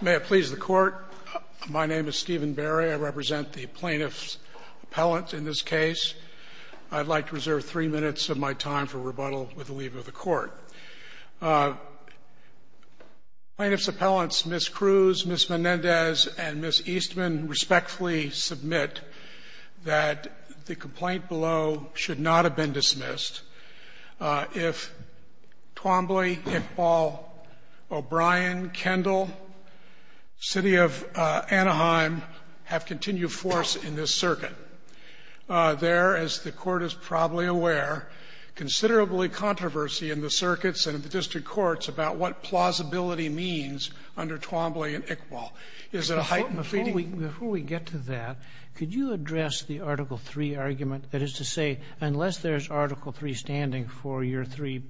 May it please the Court, my name is Stephen Barry. I represent the plaintiff's appellant in this case. I'd like to reserve three minutes of my time for rebuttal with the leave of the Court. Plaintiff's appellants Ms. Cruz, Ms. Menendez, and Ms. Eastman respectfully submit that the complaint below should not have been dismissed if Twombly, Iqbal, O'Brien, Kendall, City of Anaheim have continued force in this circuit. There, as the Court is probably aware, considerably controversy in the circuits and in the district courts about what plausibility means under Twombly and Iqbal. Is it a heightened feeling? Kagan before we get to that, could you address the Article III argument, that is to say unless there's Article III standing for your three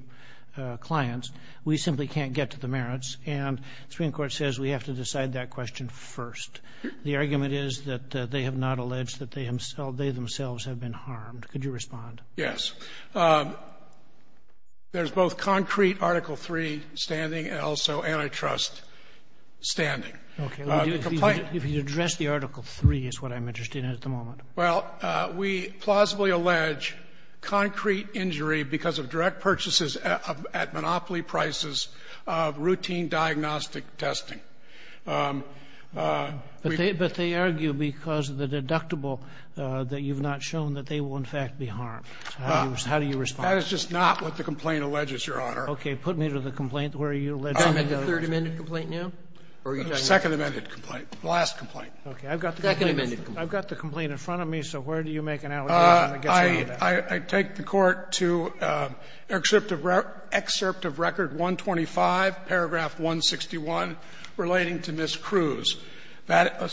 clients, we simply can't get to the merits, and the Supreme Court says we have to decide that question first. The argument is that they have not alleged that they themselves have been harmed. Could you respond? Yes. There's both concrete Article III standing and also antitrust standing. Okay. The complaint If you address the Article III is what I'm interested in at the moment. Well, we plausibly allege concrete injury because of direct purchases at monopoly prices of routine diagnostic testing. But they argue because of the deductible that you've not shown that they will in fact be harmed. How do you respond? That is just not what the complaint alleges, Your Honor. Okay. Put me to the complaint where you allege that. Can I make a third amended complaint now? Second amended complaint. Last complaint. Okay. I've got the complaint. Second amended complaint. I've got the complaint in front of me, so where do you make an allegation that gets around that? I take the Court to excerpt of record 125, paragraph 161, which says that the plaintiff is not relating to Ms. Cruz.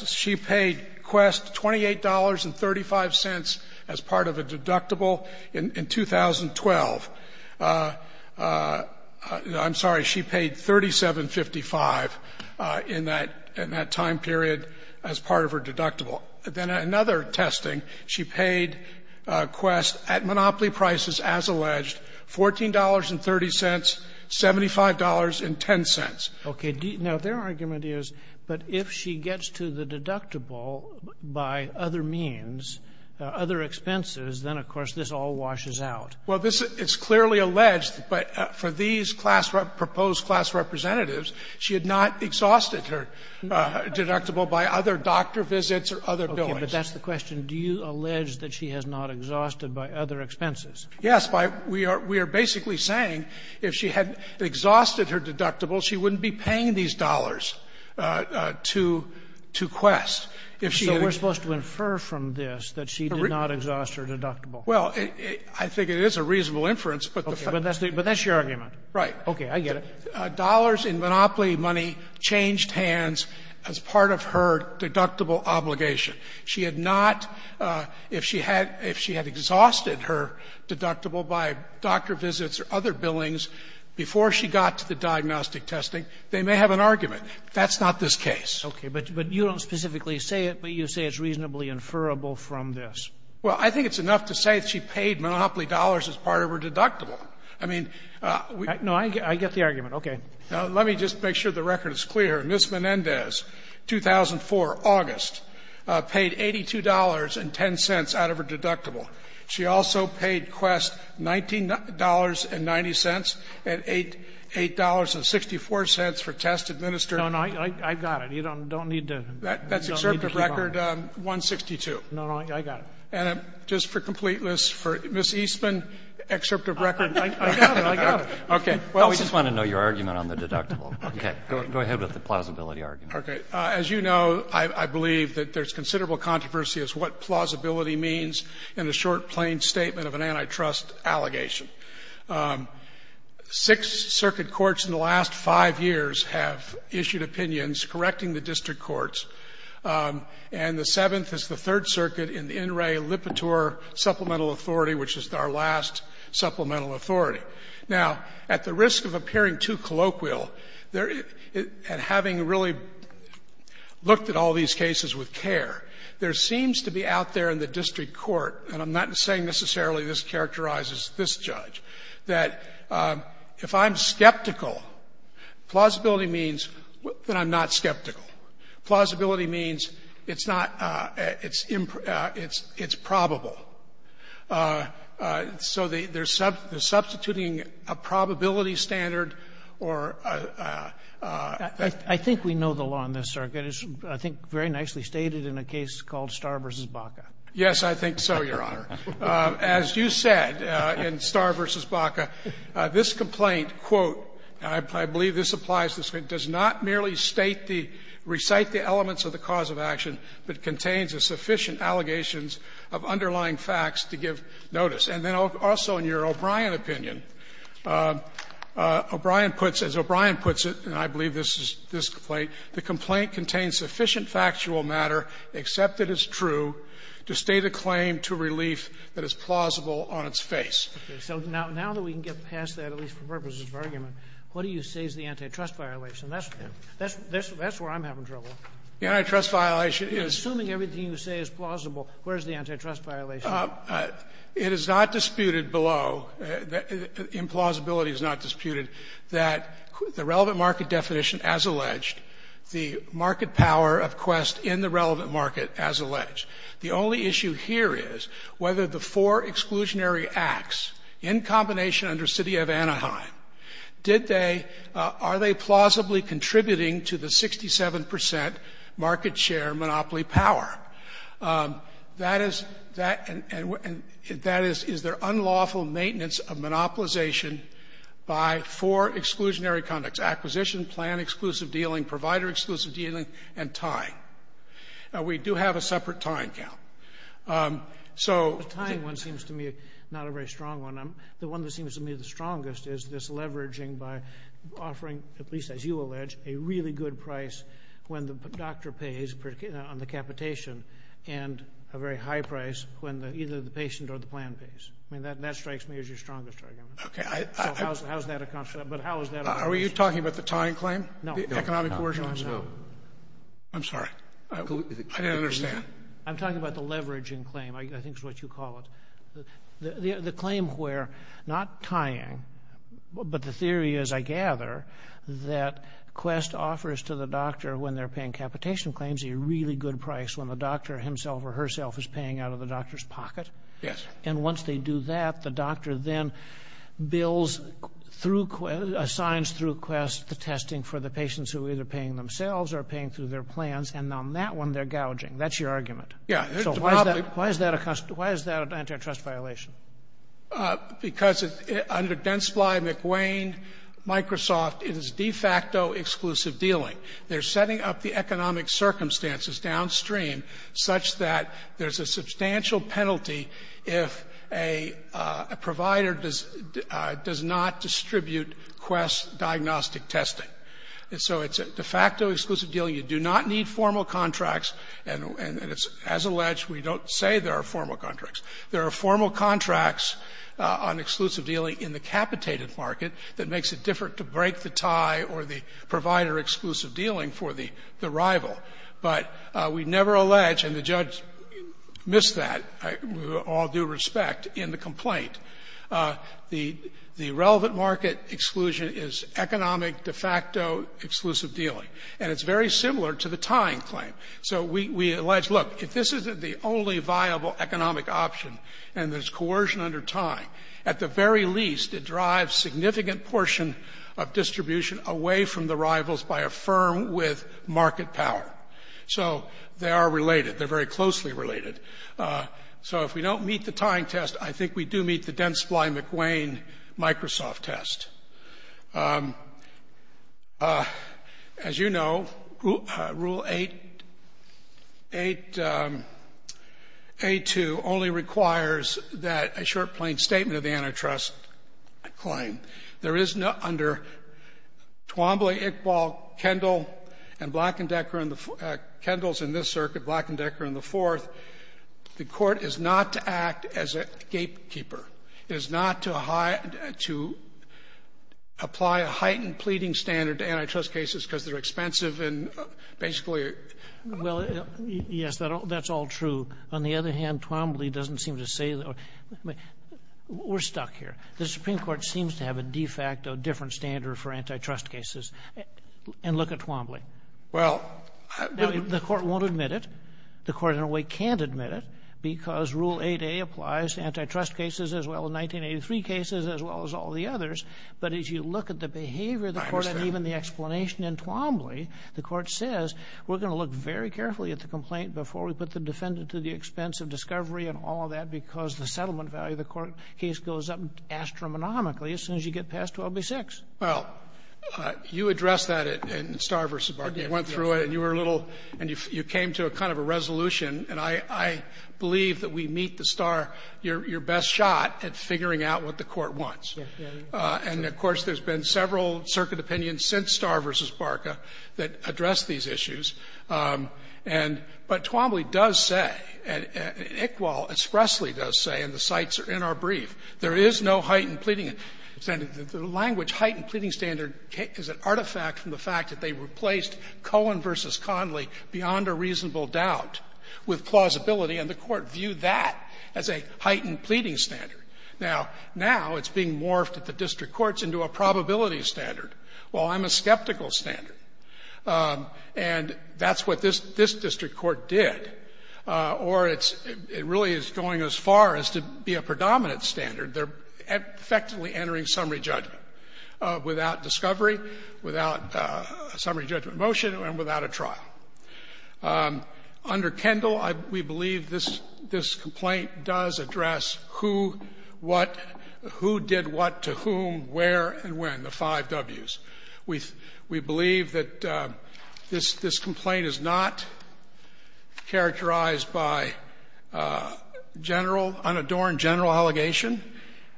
She paid Quest $28.35 as part of a deductible in 2012. I'm sorry, she paid $37.55 in that time period as part of her deductible. Then another testing, she paid Quest at monopoly prices as alleged, $14.30, $75.10. Okay. Now, their argument is, but if she gets to the deductible by other means, other expenses, then of course this all washes out. Well, this is clearly alleged, but for these class rep --"proposed class representatives," she had not exhausted her deductible by other doctor visits or other billings. Okay. But that's the question. Do you allege that she has not exhausted by other expenses? Yes, by we are basically saying if she had exhausted her deductible, she wouldn't be paying these dollars to Quest. If she had exhausted her deductible, she wouldn't be paying these dollars to Quest. So we're supposed to infer from this that she did not exhaust her deductible? Well, I think it is a reasonable inference, but the fact is that she did not. But that's your argument. Right. Okay. I get it. Dollars in monopoly money changed hands as part of her deductible obligation. She had not, if she had exhausted her deductible by doctor visits or other billings before she got to the diagnostic testing, they may have an argument. That's not this case. Okay. But you don't specifically say it, but you say it's reasonably inferable from this. Well, I think it's enough to say that she paid monopoly dollars as part of her deductible. I mean, we can't say that. No, I get the argument. Okay. Now, let me just make sure the record is clear. Ms. Menendez, 2004, August, paid $82.10 out of her deductible. She also paid Quest $19.90 and $8.64 for test administering. No, no, I've got it. You don't need to keep on it. That's excerpt of record 162. No, no, I got it. And just for completeness, for Ms. Eastman, excerpt of record. I got it, I got it. Okay. Well, we just want to know your argument on the deductible. Okay. Go ahead with the plausibility argument. Okay. As you know, I believe that there's considerable controversy as to what plausibility means in a short, plain statement of an antitrust allegation. Six circuit courts in the last five years have issued opinions correcting the district courts, and the seventh is the Third Circuit in the In re Lipitor supplemental authority, which is our last supplemental authority. Now, at the risk of appearing too colloquial, there at having really looked at all these cases with care, there seems to be out there in the district court, and I'm not saying necessarily this characterizes this judge, that if I'm skeptical, plausibility means that I'm not skeptical. Plausibility means it's not – it's improbable. So they're substituting a probability standard or a – I think we know the law in this circuit. It's, I think, very nicely stated in a case called Starr v. Baca. Yes, I think so, Your Honor. As you said in Starr v. Baca, this complaint, quote, and I believe this applies to this, does not merely state the – recite the elements of the cause of action, but contains the sufficient allegations of underlying facts to give notice. And then also in your O'Brien opinion, O'Brien puts – as O'Brien puts it, and I believe this is this complaint, the complaint contains sufficient factual matter, except that it's true, to state a claim to relief that is plausible on its face. Okay. So now that we can get past that, at least for purposes of argument, what do you say is the antitrust violation? That's where I'm having trouble. The antitrust violation is – You're assuming everything you say is plausible. Where is the antitrust violation? It is not disputed below – implausibility is not disputed that the relevant market definition as alleged, the market power of quest in the relevant market as alleged. The only issue here is whether the four exclusionary acts in combination under city of Anaheim, did they – are they plausibly contributing to the 67 percent market share monopoly power. That is – that – and that is – is there unlawful maintenance of monopolization by four exclusionary conducts, acquisition, plan, exclusive dealing, provider exclusive dealing, and tying. Now, we do have a separate tying count. So – The tying one seems to me not a very strong one. The one that seems to me the strongest is this leveraging by offering, at least as you allege, a really good price when the doctor pays on the capitation and a very high price when either the patient or the plan pays. I mean, that strikes me as your strongest argument. Okay, I – So how is that a – but how is that a – Are you talking about the tying claim? No. The economic coercion? No, no. I'm sorry. I didn't understand. I'm talking about the leveraging claim. I think it's what you call it. The claim where not tying, but the theory is, I gather, that Quest offers to the doctor when they're paying capitation claims a really good price when the doctor himself or herself is paying out of the doctor's pocket. Yes. And once they do that, the doctor then bills through – assigns through Quest the testing for the patients who are either paying themselves or paying through their plans. And on that one, they're gouging. That's your argument. Yeah. So why is that a – why is that an antitrust violation? Because under Gensply, McWane, Microsoft, it is de facto exclusive dealing. They're setting up the economic circumstances downstream such that there's a substantial penalty if a provider does not distribute Quest diagnostic testing. And so it's a de facto exclusive deal. You do not need formal contracts, and it's – as alleged, we don't say there are formal contracts. There are formal contracts on exclusive dealing in the capitated market that makes it different to break the tie or the provider-exclusive dealing for the rival. But we never allege, and the judge missed that, with all due respect, in the complaint. The relevant market exclusion is economic de facto exclusive dealing. And it's very similar to the tying claim. So we allege, look, if this isn't the only viable economic option and there's coercion under tying, at the very least, it drives significant portion of distribution away from the rivals by a firm with market power. So they are related. They're very closely related. So if we don't meet the tying test, I think we do meet the Gensply-McWane-Microsoft test. As you know, Rule 8A2 only requires that a short, plain statement of the antitrust claim. There is no – under Twombly, Iqbal, Kendall, and Black and Decker in the – Kendall's in this circuit, Black and Decker in the fourth, the Court is not to act as a gatekeeper, is not to high – to apply a heightened pleading standard to antitrust cases because they're expensive and basically are – Well, yes, that's all true. On the other hand, Twombly doesn't seem to say – we're stuck here. The Supreme Court seems to have a de facto different standard for antitrust cases. And look at Twombly. Well, I – Now, the Court won't admit it. The Court, in a way, can't admit it because Rule 8A applies to antitrust cases as well, 1983 cases as well as all the others. But as you look at the behavior of the Court and even the explanation in Twombly, the Court says we're going to look very carefully at the complaint before we put the defendant to the expense of discovery and all of that because the settlement value of the court case goes up astronomically as soon as you get past 12B6. Well, you addressed that in Starr v. Barclay. You went through it, and you were a little – and you came to a kind of a resolution. And I believe that we meet the Starr – your best shot at figuring out what the Court wants. And, of course, there's been several circuit opinions since Starr v. Barclay that address these issues. And – but Twombly does say, and Iqbal expressly does say, and the cites are in our brief, there is no heightened pleading standard. The language, heightened pleading standard, is an artifact from the fact that they replaced Cohen v. Conley beyond a reasonable doubt with plausibility, and the Court viewed that as a heightened pleading standard. Now, now it's being morphed at the district courts into a probability standard. Well, I'm a skeptical standard. And that's what this district court did. Or it's – it really is going as far as to be a predominant standard. They're effectively entering summary judgment without discovery, without summary judgment motion, and without a trial. Under Kendall, we believe this complaint does address who, what, who did what to whom, where, and when, the five Ws. We believe that this complaint is not characterized by general, unadorned general allegation.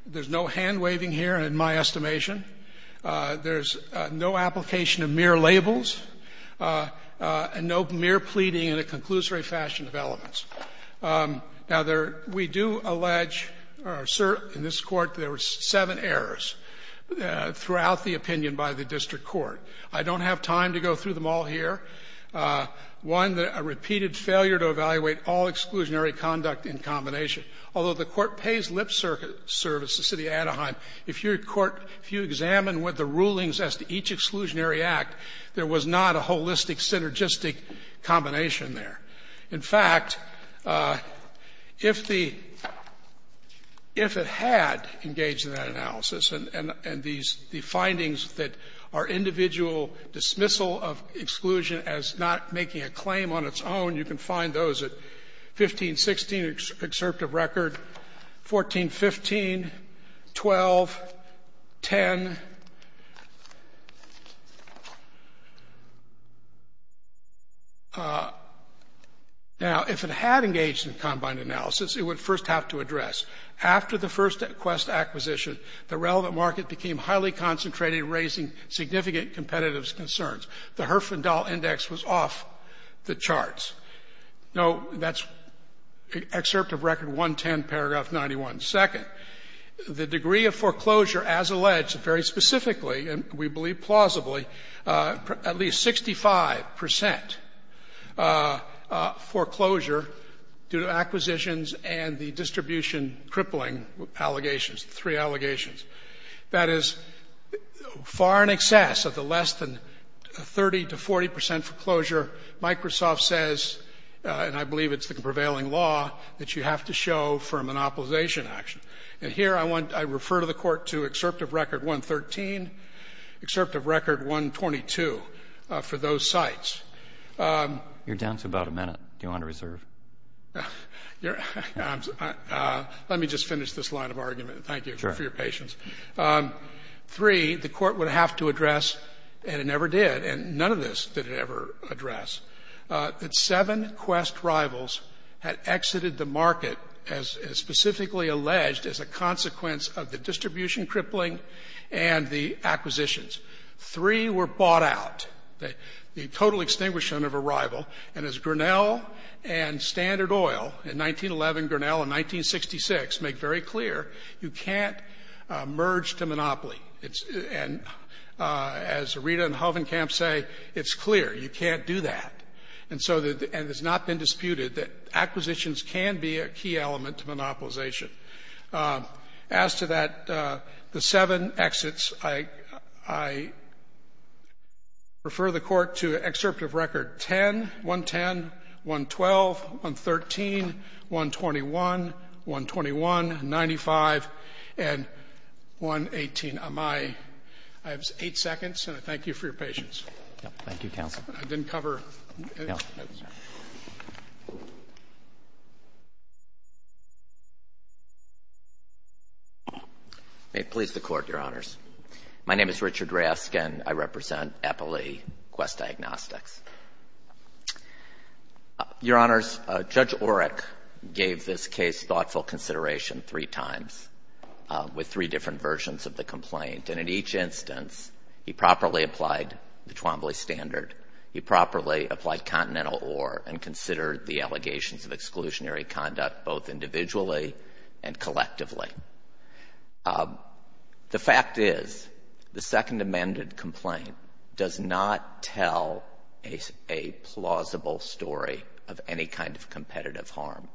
There's no hand-waving here, in my estimation. There's no application of mere labels, and no mere pleading in a conclusory fashion of elements. Now, there – we do allege, or assert in this Court, there were seven errors throughout the opinion by the district court. I don't have time to go through them all here. One, a repeated failure to evaluate all exclusionary conduct in combination. Although the Court pays lip service to the City of Anaheim, if your court – if you examine what the rulings as to each exclusionary act, there was not a holistic, synergistic combination there. In fact, if the – if it had engaged in that analysis and these – the findings that are individual dismissal of exclusion as not making a claim on its own, you can find those at 1516, Excerpt of Record, 1415, 12, 10, 11, 12, 12, and 13, 12, 12, and 13. Now, if it had engaged in combined analysis, it would first have to address. After the first quest acquisition, the relevant market became highly concentrated, raising significant competitive concerns. The Herfindahl Index was off the charts. No, that's Excerpt of Record, 110, paragraph 91. Second, the degree of foreclosure, as alleged, very specifically, and we believe plausibly, at least 65 percent foreclosure due to acquisitions and the distribution crippling allegations, the three allegations. That is far in excess of the less than 30 to 40 percent foreclosure. Microsoft says, and I believe it's the prevailing law, that you have to show for a monopolization action. And here, I want to refer to the Court to Excerpt of Record, 113, Excerpt of Record, 122, for those sites. You're down to about a minute. Do you want to reserve? Let me just finish this line of argument, and thank you for your patience. Three, the Court would have to address, and it never did, and none of this did it ever address, that seven Quest rivals had exited the market as specifically alleged as a consequence of the distribution crippling and the acquisitions. Three were bought out, the total extinguishment of a rival. And as Grinnell and Standard Oil in 1911, Grinnell in 1966, make very clear, you can't merge to monopoly. And as Rita and Hovenkamp say, it's clear. You can't do that. And so the — and it's not been disputed that acquisitions can be a key element to monopolization. As to that, the seven exits, I refer the Court to Excerpt of Record 10, 110, 112, 113, 121, 121, 95, and 118. I have eight seconds, and I thank you for your patience. Thank you, counsel. I didn't cover any of the minutes. May it please the Court, Your Honors. My name is Richard Rask, and I represent Eppley Quest Diagnostics. Your Honors, Judge Oreck gave this case thoughtful consideration three times with three different versions of the complaint. And in each instance, he properly applied the Twombly standard. He properly applied Continental Or, and considered the allegations of exclusionary conduct both individually and collectively. The fact is, the Second Amended complaint does not tell a plausible story of any kind of competitive harm.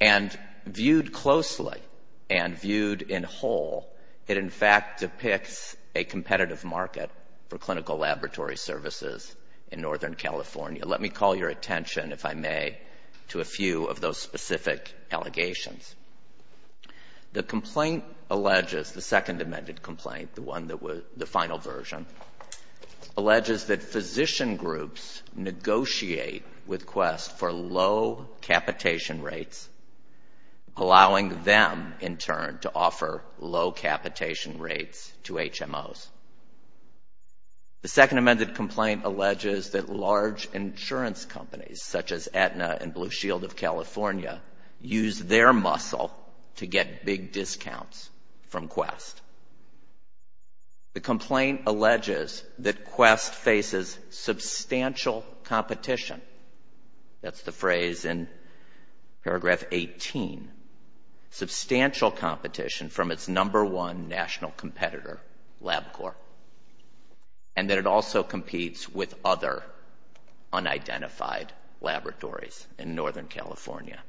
And viewed closely and viewed in whole, it, in fact, depicts a competitive market for clinical laboratory services in Northern California. Let me call your attention, if I may, to a few of those specific allegations. The complaint alleges, the Second Amended complaint, the one that was the final version, alleges that physician groups negotiate with Quest for low capitation rates, allowing them, in turn, to offer low capitation rates to HMOs. The Second Amended complaint alleges that large insurance companies, such as to get big discounts from Quest. The complaint alleges that Quest faces substantial competition, that's the phrase in paragraph 18, substantial competition from its number one national competitor, LabCorp, and that it also competes with other unidentified laboratories in Northern California.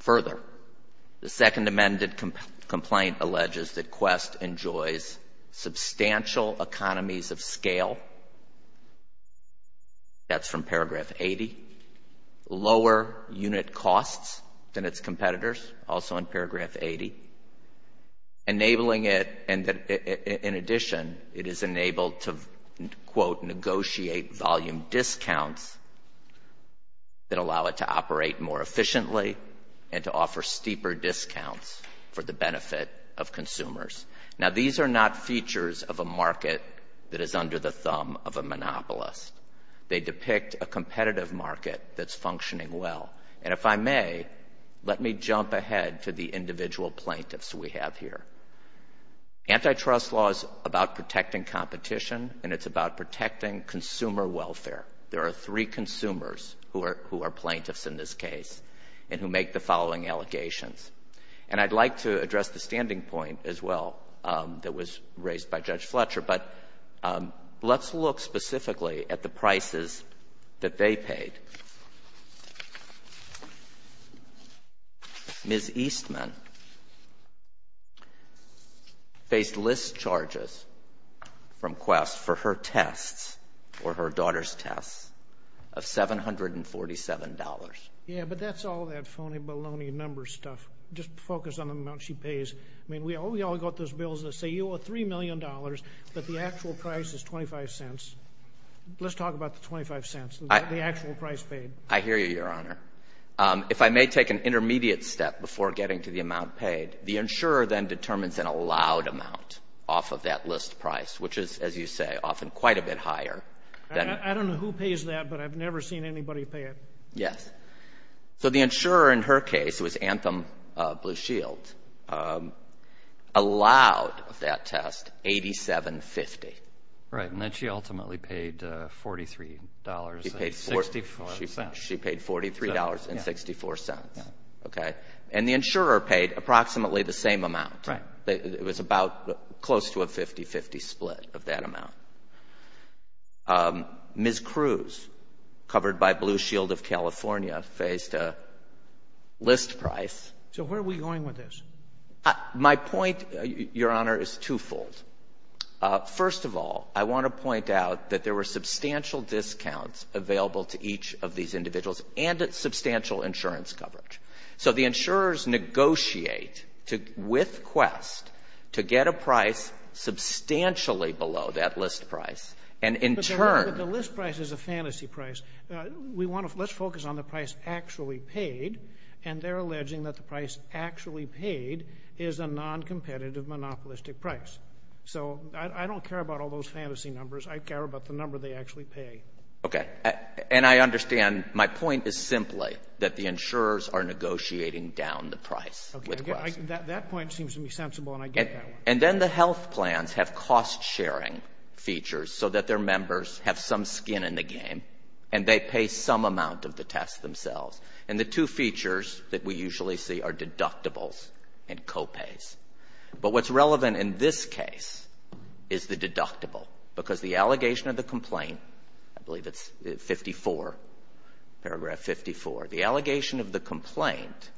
Further, the Second Amended complaint alleges that Quest enjoys substantial economies of scale, that's from paragraph 80, lower unit costs than its competitors, also in paragraph 80, enabling it, and that in addition, it is enabled to, quote, negotiate volume discounts that allow it to operate more and to offer steeper discounts for the benefit of consumers. Now, these are not features of a market that is under the thumb of a monopolist. They depict a competitive market that's functioning well. And if I may, let me jump ahead to the individual plaintiffs we have here. Antitrust law is about protecting competition, and it's about protecting consumer welfare. There are three consumers who are plaintiffs in this case and who make the following allegations. And I'd like to address the standing point as well that was raised by Judge Fletcher, but let's look specifically at the prices that they paid. Ms. Eastman faced list charges from Quest for her tests or her daughter's tests of $747. Yeah, but that's all that phony baloney numbers stuff. Just focus on the amount she pays. I mean, we all got those bills that say you owe $3 million, but the actual price is 25 cents. Let's talk about the 25 cents, the actual price paid. I hear you, Your Honor. If I may take an intermediate step before getting to the amount paid, the insurer then determines an allowed amount off of that list price, which is, as you say, often quite a bit higher. I don't know who pays that, but I've never seen anybody pay it. Yes. So the insurer in her case, it was Anthem Blue Shield, allowed that test $87.50. Right. And then she ultimately paid $43.64. She paid $43.64. Okay. And the insurer paid approximately the same amount. Right. It was about close to a 50-50 split of that amount. Ms. Cruz, covered by Blue Shield of California, faced a list price. So where are we going with this? My point, Your Honor, is twofold. First of all, I want to point out that there were substantial discounts available to each of these individuals and substantial insurance coverage. So the insurers negotiate with Quest to get a price substantially below that list price. But the list price is a fantasy price. Let's focus on the price actually paid, and they're alleging that the price actually paid is a noncompetitive monopolistic price. So I don't care about all those fantasy numbers. I care about the number they actually pay. Okay. And I understand my point is simply that the insurers are negotiating down the price. That point seems to be sensible, and I get that one. And then the health plans have cost-sharing features so that their members have some skin in the game, and they pay some amount of the test themselves. And the two features that we usually see are deductibles and co-pays. But what's relevant in this case is the deductible, because the allegation of the complaint, I believe it's 54, paragraph 54. The allegation of the complaint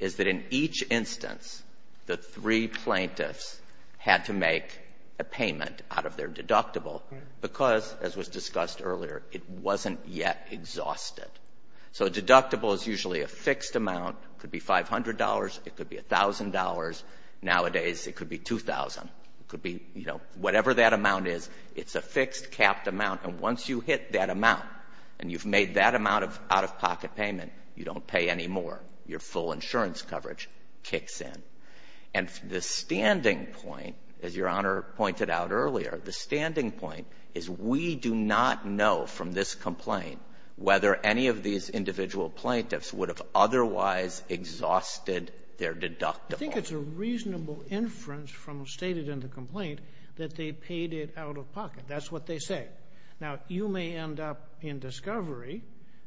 is that in each instance, the three plaintiffs had to make a payment out of their deductible because, as was discussed earlier, it wasn't yet exhausted. So a deductible is usually a fixed amount. It could be $500. It could be $1,000. Nowadays, it could be $2,000. It could be, you know, whatever that amount is. It's a fixed, capped amount. And once you hit that amount, and you've made that amount of out-of-pocket payment, you don't pay any more. Your full insurance coverage kicks in. And the standing point, as Your Honor pointed out earlier, the standing point is we do not know from this complaint whether any of these individual plaintiffs would have otherwise exhausted their deductible. I think it's a reasonable inference from stated in the complaint that they paid it out-of-pocket. That's what they say. Now, you may end up in discovery,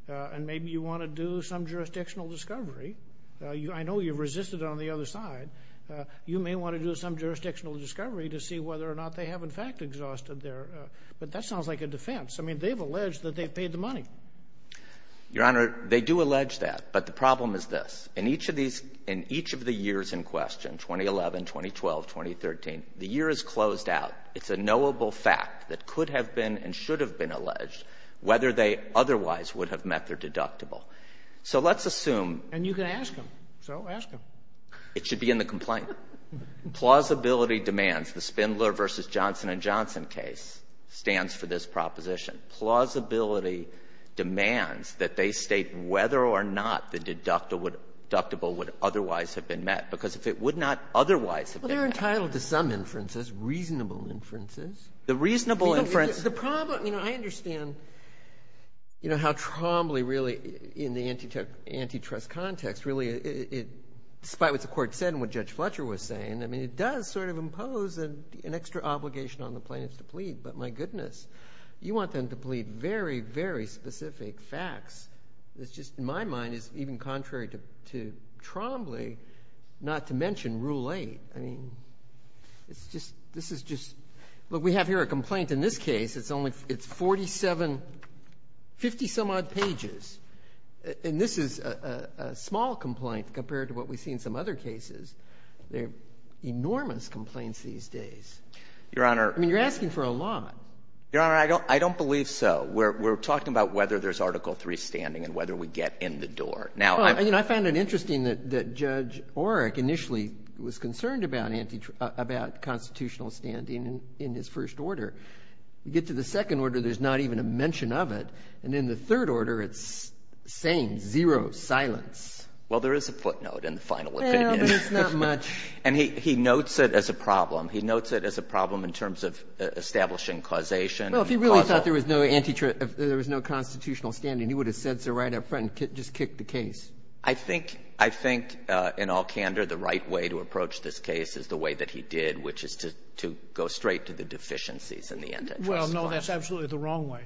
and maybe you want to do some jurisdictional discovery. I know you've resisted on the other side. You may want to do some jurisdictional discovery to see whether or not they have, in fact, exhausted their — but that sounds like a defense. I mean, they've alleged that they've paid the money. Your Honor, they do allege that. But the problem is this. In each of these — in each of the years in question, 2011, 2012, 2013, the year is closed out. It's a knowable fact that could have been and should have been alleged whether they otherwise would have met their deductible. So let's assume — And you can ask them. So ask them. It should be in the complaint. Plausibility demands. The Spindler v. Johnson & Johnson case stands for this proposition. Plausibility demands that they state whether or not the deductible would otherwise have been met, because if it would not otherwise have been met — Well, they're entitled to some inferences, reasonable inferences. The reasonable inference — The problem — you know, I understand, you know, how trombly, really, in the antitrust context, really it — despite what the Court said and what Judge Fletcher was saying, I mean, it does sort of impose an extra obligation on the plaintiffs to plead. But, my goodness, you want them to plead very, very specific facts. It's just — in my mind, it's even contrary to trombly not to mention Rule 8. I mean, it's just — this is just — look, we have here a complaint in this case. It's only — it's 47 — 50-some-odd pages. And this is a small complaint compared to what we see in some other cases. There are enormous complaints these days. Your Honor — I mean, you're asking for a lot. Your Honor, I don't — I don't believe so. We're talking about whether there's Article III standing and whether we get in the door. Now — Well, you know, I found it interesting that Judge Oreck initially was concerned about constitutional standing in his first order. You get to the second order, there's not even a mention of it. And in the third order, it's the same, zero silence. Well, there is a footnote in the final opinion. Well, but it's not much. And he notes it as a problem. He notes it as a problem in terms of establishing causation. Well, if he really thought there was no antitrust — there was no constitutional standing, he would have said so right up front and just kicked the case. I think — I think, in all candor, the right way to approach this case is the way that he did, which is to go straight to the deficiencies in the antitrust clause. Well, no, that's absolutely the wrong way.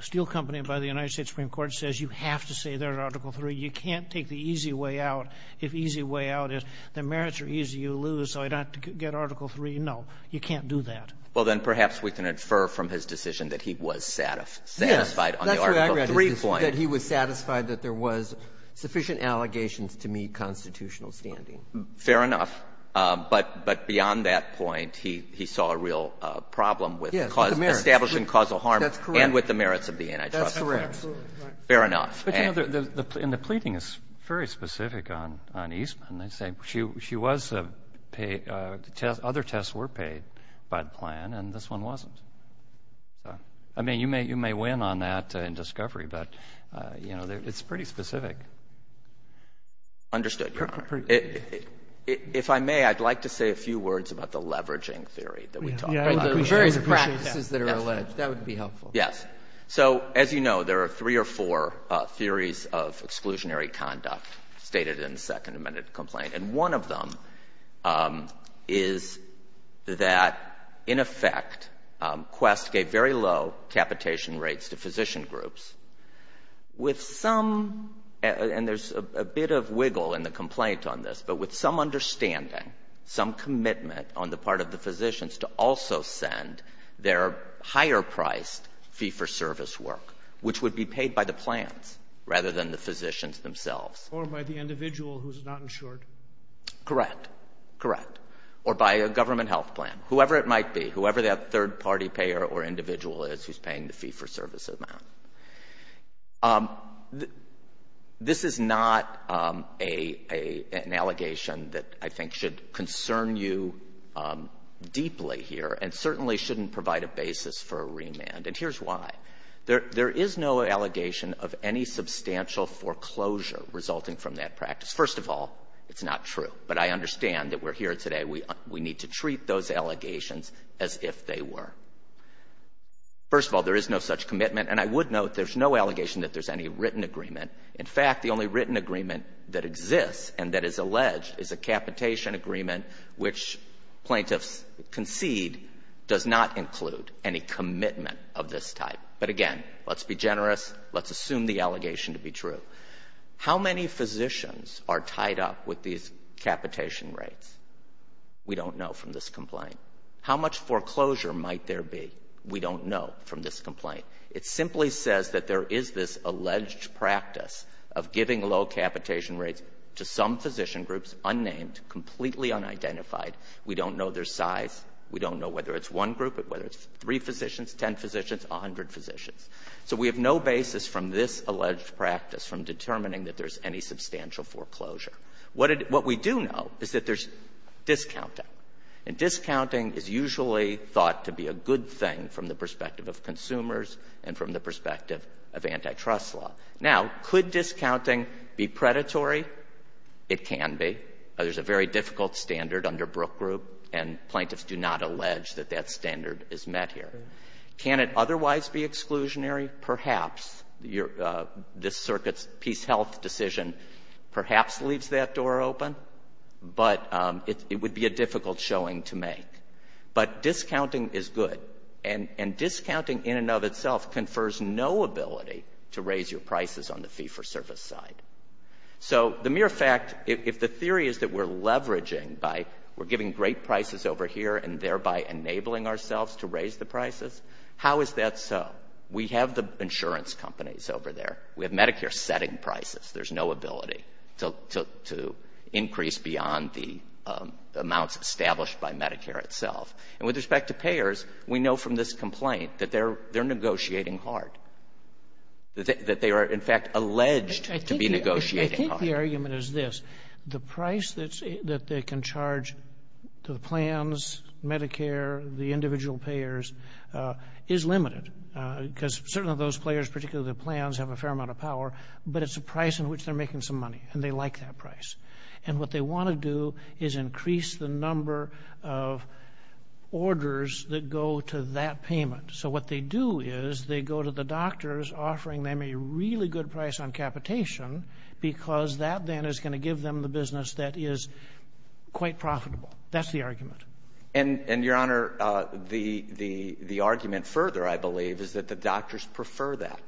Steel Company, by the United States Supreme Court, says you have to say there's Article III. You can't take the easy way out. If easy way out is the merits are easy, you lose, so I'd have to get Article III. No, you can't do that. Well, then perhaps we can infer from his decision that he was satisfied on the Article III point. Yes. That's what I read, that he was satisfied that there was sufficient allegations to meet constitutional standing. Fair enough. But beyond that point, he saw a real problem with the cause — establishing causal harm and with the merits of the antitrust clause. That's correct. That's correct. Fair enough. But, you know, the — and the pleading is very specific on Eastman. They say she was — other tests were paid by the plan, and this one wasn't. So, I mean, you may win on that in discovery, but, you know, it's pretty specific. Understood, Your Honor. If I may, I'd like to say a few words about the leveraging theory that we talked about. The various practices that are alleged. That would be helpful. Yes. So, as you know, there are three or four theories of exclusionary conduct stated in the Second Amendment complaint, and one of them is that, in effect, Quest gave very low capitation rates to physician groups. With some — and there's a bit of wiggle in the complaint on this, but with some understanding, some commitment on the part of the physicians to also send their higher-priced fee-for-service work, which would be paid by the plans rather than the physicians themselves. Or by the individual who's not insured. Correct. Correct. Or by a government health plan. Whoever it might be, whoever that third-party payer or individual is who's paying the fee-for-service amount. This is not an allegation that I think should concern you deeply here and certainly shouldn't provide a basis for a remand. And here's why. There is no allegation of any substantial foreclosure resulting from that practice. First of all, it's not true. But I understand that we're here today. We need to treat those allegations as if they were. First of all, there is no such commitment. And I would note there's no allegation that there's any written agreement. In fact, the only written agreement that exists and that is alleged is a capitation agreement, which plaintiffs concede does not include any commitment of this type. But again, let's be generous. Let's assume the allegation to be true. How many physicians are tied up with these capitation rates? We don't know from this complaint. How much foreclosure might there be? We don't know from this complaint. It simply says that there is this alleged practice of giving low capitation rates to some physician groups, unnamed, completely unidentified. We don't know their size. We don't know whether it's one group, whether it's three physicians, ten physicians, a hundred physicians. So we have no basis from this alleged practice from determining that there's any substantial foreclosure. What we do know is that there's discounting. And discounting is usually thought to be a good thing from the perspective of consumers and from the perspective of antitrust law. Now, could discounting be predatory? It can be. There's a very difficult standard under Brook Group, and plaintiffs do not allege that that standard is met here. Can it otherwise be exclusionary? Perhaps. This Circuit's Peace Health decision perhaps leaves that door open, but it would be a difficult showing to make. But discounting is good. And discounting in and of itself confers no ability to raise your prices on the fee for service side. So the mere fact, if the theory is that we're leveraging by we're giving great prices over here and thereby enabling ourselves to raise the prices, how is that so? We have the insurance companies over there. We have Medicare setting prices. There's no ability to increase beyond the amounts established by Medicare itself. And with respect to payers, we know from this complaint that they're negotiating hard, that they are, in fact, alleged to be negotiating hard. I think the argument is this. The price that they can charge the plans, Medicare, the individual payers is limited. Because certainly those players, particularly the plans, have a fair amount of power, but it's a price in which they're making some money, and they like that price. And what they want to do is increase the number of orders that go to that payment. So what they do is they go to the doctors, offering them a really good price on capitation, because that then is going to give them the business that is quite profitable. That's the argument. And, Your Honor, the argument further, I believe, is that the doctors prefer that.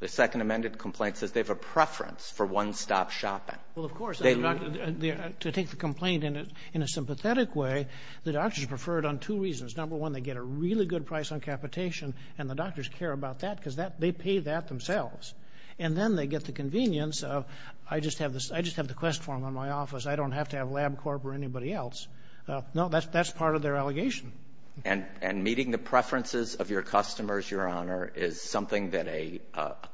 The Second Amendment complaint says they have a preference for one-stop shopping. Well, of course. To take the complaint in a sympathetic way, the doctors prefer it on two reasons. Number one, they get a really good price on capitation, and the doctors care about that, because they pay that themselves. And then they get the convenience of, I just have the quest form on my office. I don't have to have LabCorp or anybody else. No, that's part of their allegation. And meeting the preferences of your customers, Your Honor, is something that a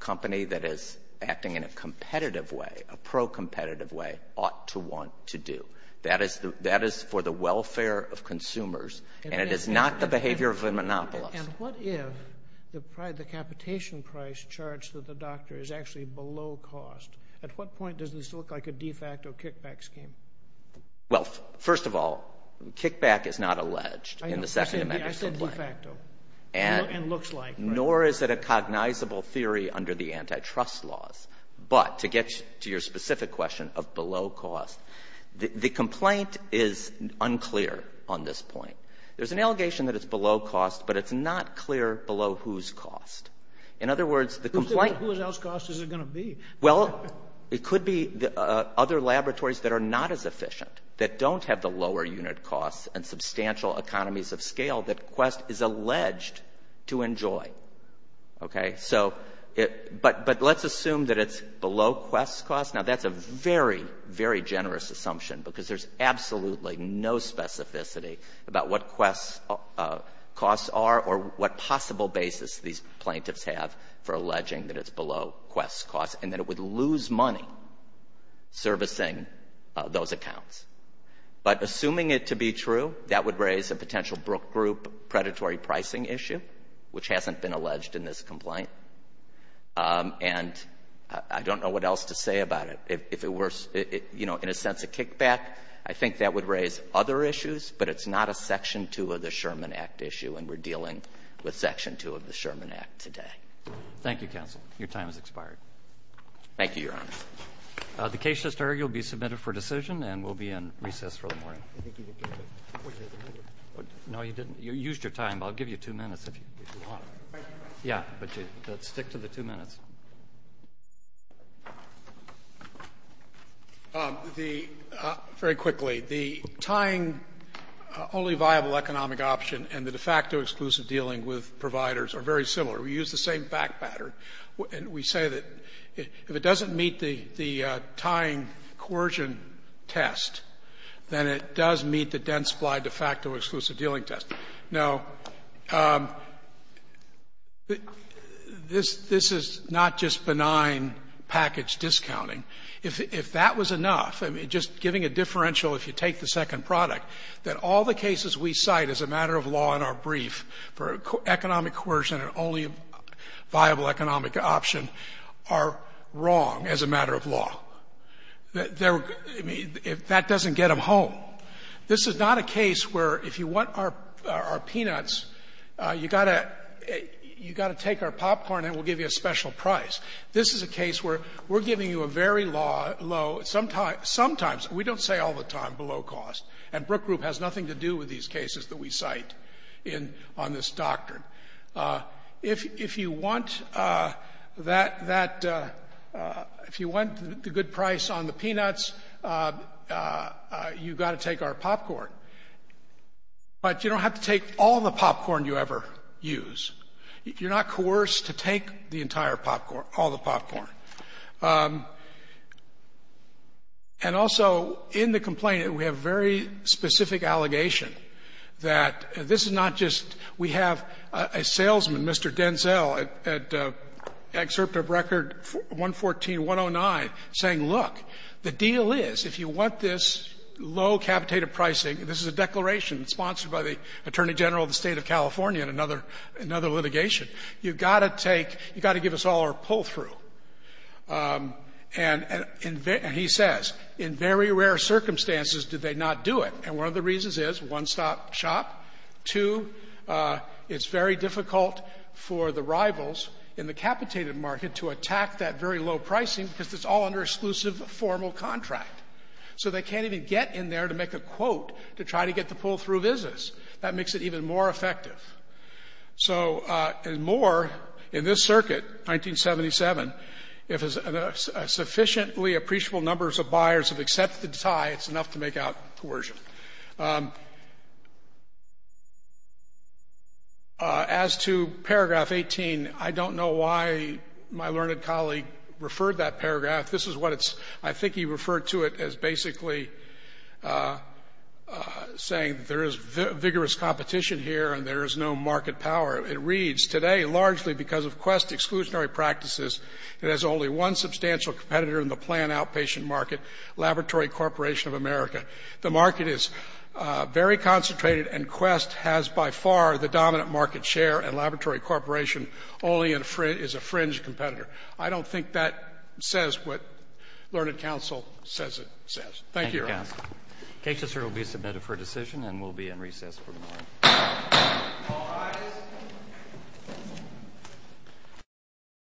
company that is acting in a competitive way, a pro-competitive way, ought to want to do. That is for the welfare of consumers, and it is not the behavior of a monopolist. And what if the capitation price charged to the doctor is actually below cost? At what point does this look like a de facto kickback scheme? Well, first of all, kickback is not alleged in the Second Amendment complaint. I said de facto, and looks like. Nor is it a cognizable theory under the antitrust laws. But to get to your specific question of below cost, the complaint is unclear on this point. There's an allegation that it's below cost, but it's not clear below whose cost. In other words, the complaint — Who's else cost is it going to be? Well, it could be other laboratories that are not as efficient, that don't have the lower unit costs and substantial economies of scale that Quest is alleged to enjoy. Okay? So it — but let's assume that it's below Quest's cost. Now, that's a very, very generous assumption, because there's absolutely no specificity about what Quest's costs are or what possible basis these plaintiffs have for alleging that it's below Quest's costs, and that it would lose money servicing those accounts. But assuming it to be true, that would raise a potential Brook Group predatory pricing issue, which hasn't been alleged in this complaint. And I don't know what else to say about it. If it were, you know, in a sense a kickback, I think that would raise other issues, but it's not a Section 2 of the Sherman Act issue, and we're dealing with Section 2 of the Sherman Act today. Thank you, counsel. Your time has expired. Thank you, Your Honor. The case has started. You'll be submitted for decision, and we'll be in recess for the morning. I think you didn't get to it. No, you didn't. You used your time, but I'll give you two minutes if you want. Yeah, but stick to the two minutes. The very quickly, the tying only viable economic option and the de facto exclusive dealing with providers are very similar. We use the same fact pattern, and we say that if it doesn't meet the tying coercion test, then it does meet the dense-splied de facto exclusive dealing test. Now, this is not just benign package discounting. If that was enough, I mean, just giving a differential, if you take the second product, that all the cases we cite as a matter of law in our brief for economic coercion and only viable economic option are wrong as a matter of law, that doesn't get them home. This is not a case where if you want our peanuts, you got to take our popcorn and we'll give you a special price. This is a case where we're giving you a very low, sometimes, we don't say all the time, below cost. And Brook Group has nothing to do with these cases that we cite in this doctrine. If you want that, if you want the good price on the peanuts, you've got to take our popcorn. But you don't have to take all the popcorn you ever use. You're not coerced to take the entire popcorn, all the popcorn. And also, in the complaint, we have a very specific allegation that this is not just we have a salesman, Mr. Denzel, at Excerpt of Record 114-109, saying, look, the deal is, if you want this low capitated pricing, and this is a declaration sponsored by the Attorney General of the State of California in another litigation, you've got to take, you've got to give us all our pull-through. And he says, in very rare circumstances did they not do it. And one of the reasons is, one, stop shop. Two, it's very difficult for the rivals in the capitated market to attack that very low-pricing because it's all under exclusive formal contract. So they can't even get in there to make a quote to try to get the pull-through business. That makes it even more effective. So, and more, in this circuit, 1977, if a sufficiently appreciable number of buyers have accepted the tie, it's enough to make out coercion. As to paragraph 18, I don't know why my learned colleague referred that paragraph. This is what it's, I think he referred to it as basically saying there is vigorous competition here and there is no market power. It reads, today, largely because of Quest exclusionary practices, it has only one substantial competitor in the planned outpatient market, Laboratory Corporation of America. The market is very concentrated and Quest has by far the dominant market share and Laboratory Corporation only is a fringe competitor. I don't think that says what learned counsel says it says. Thank you, Your Honor. Roberts. Kessler will be submitted for decision and will be in recess for the morning. All rise.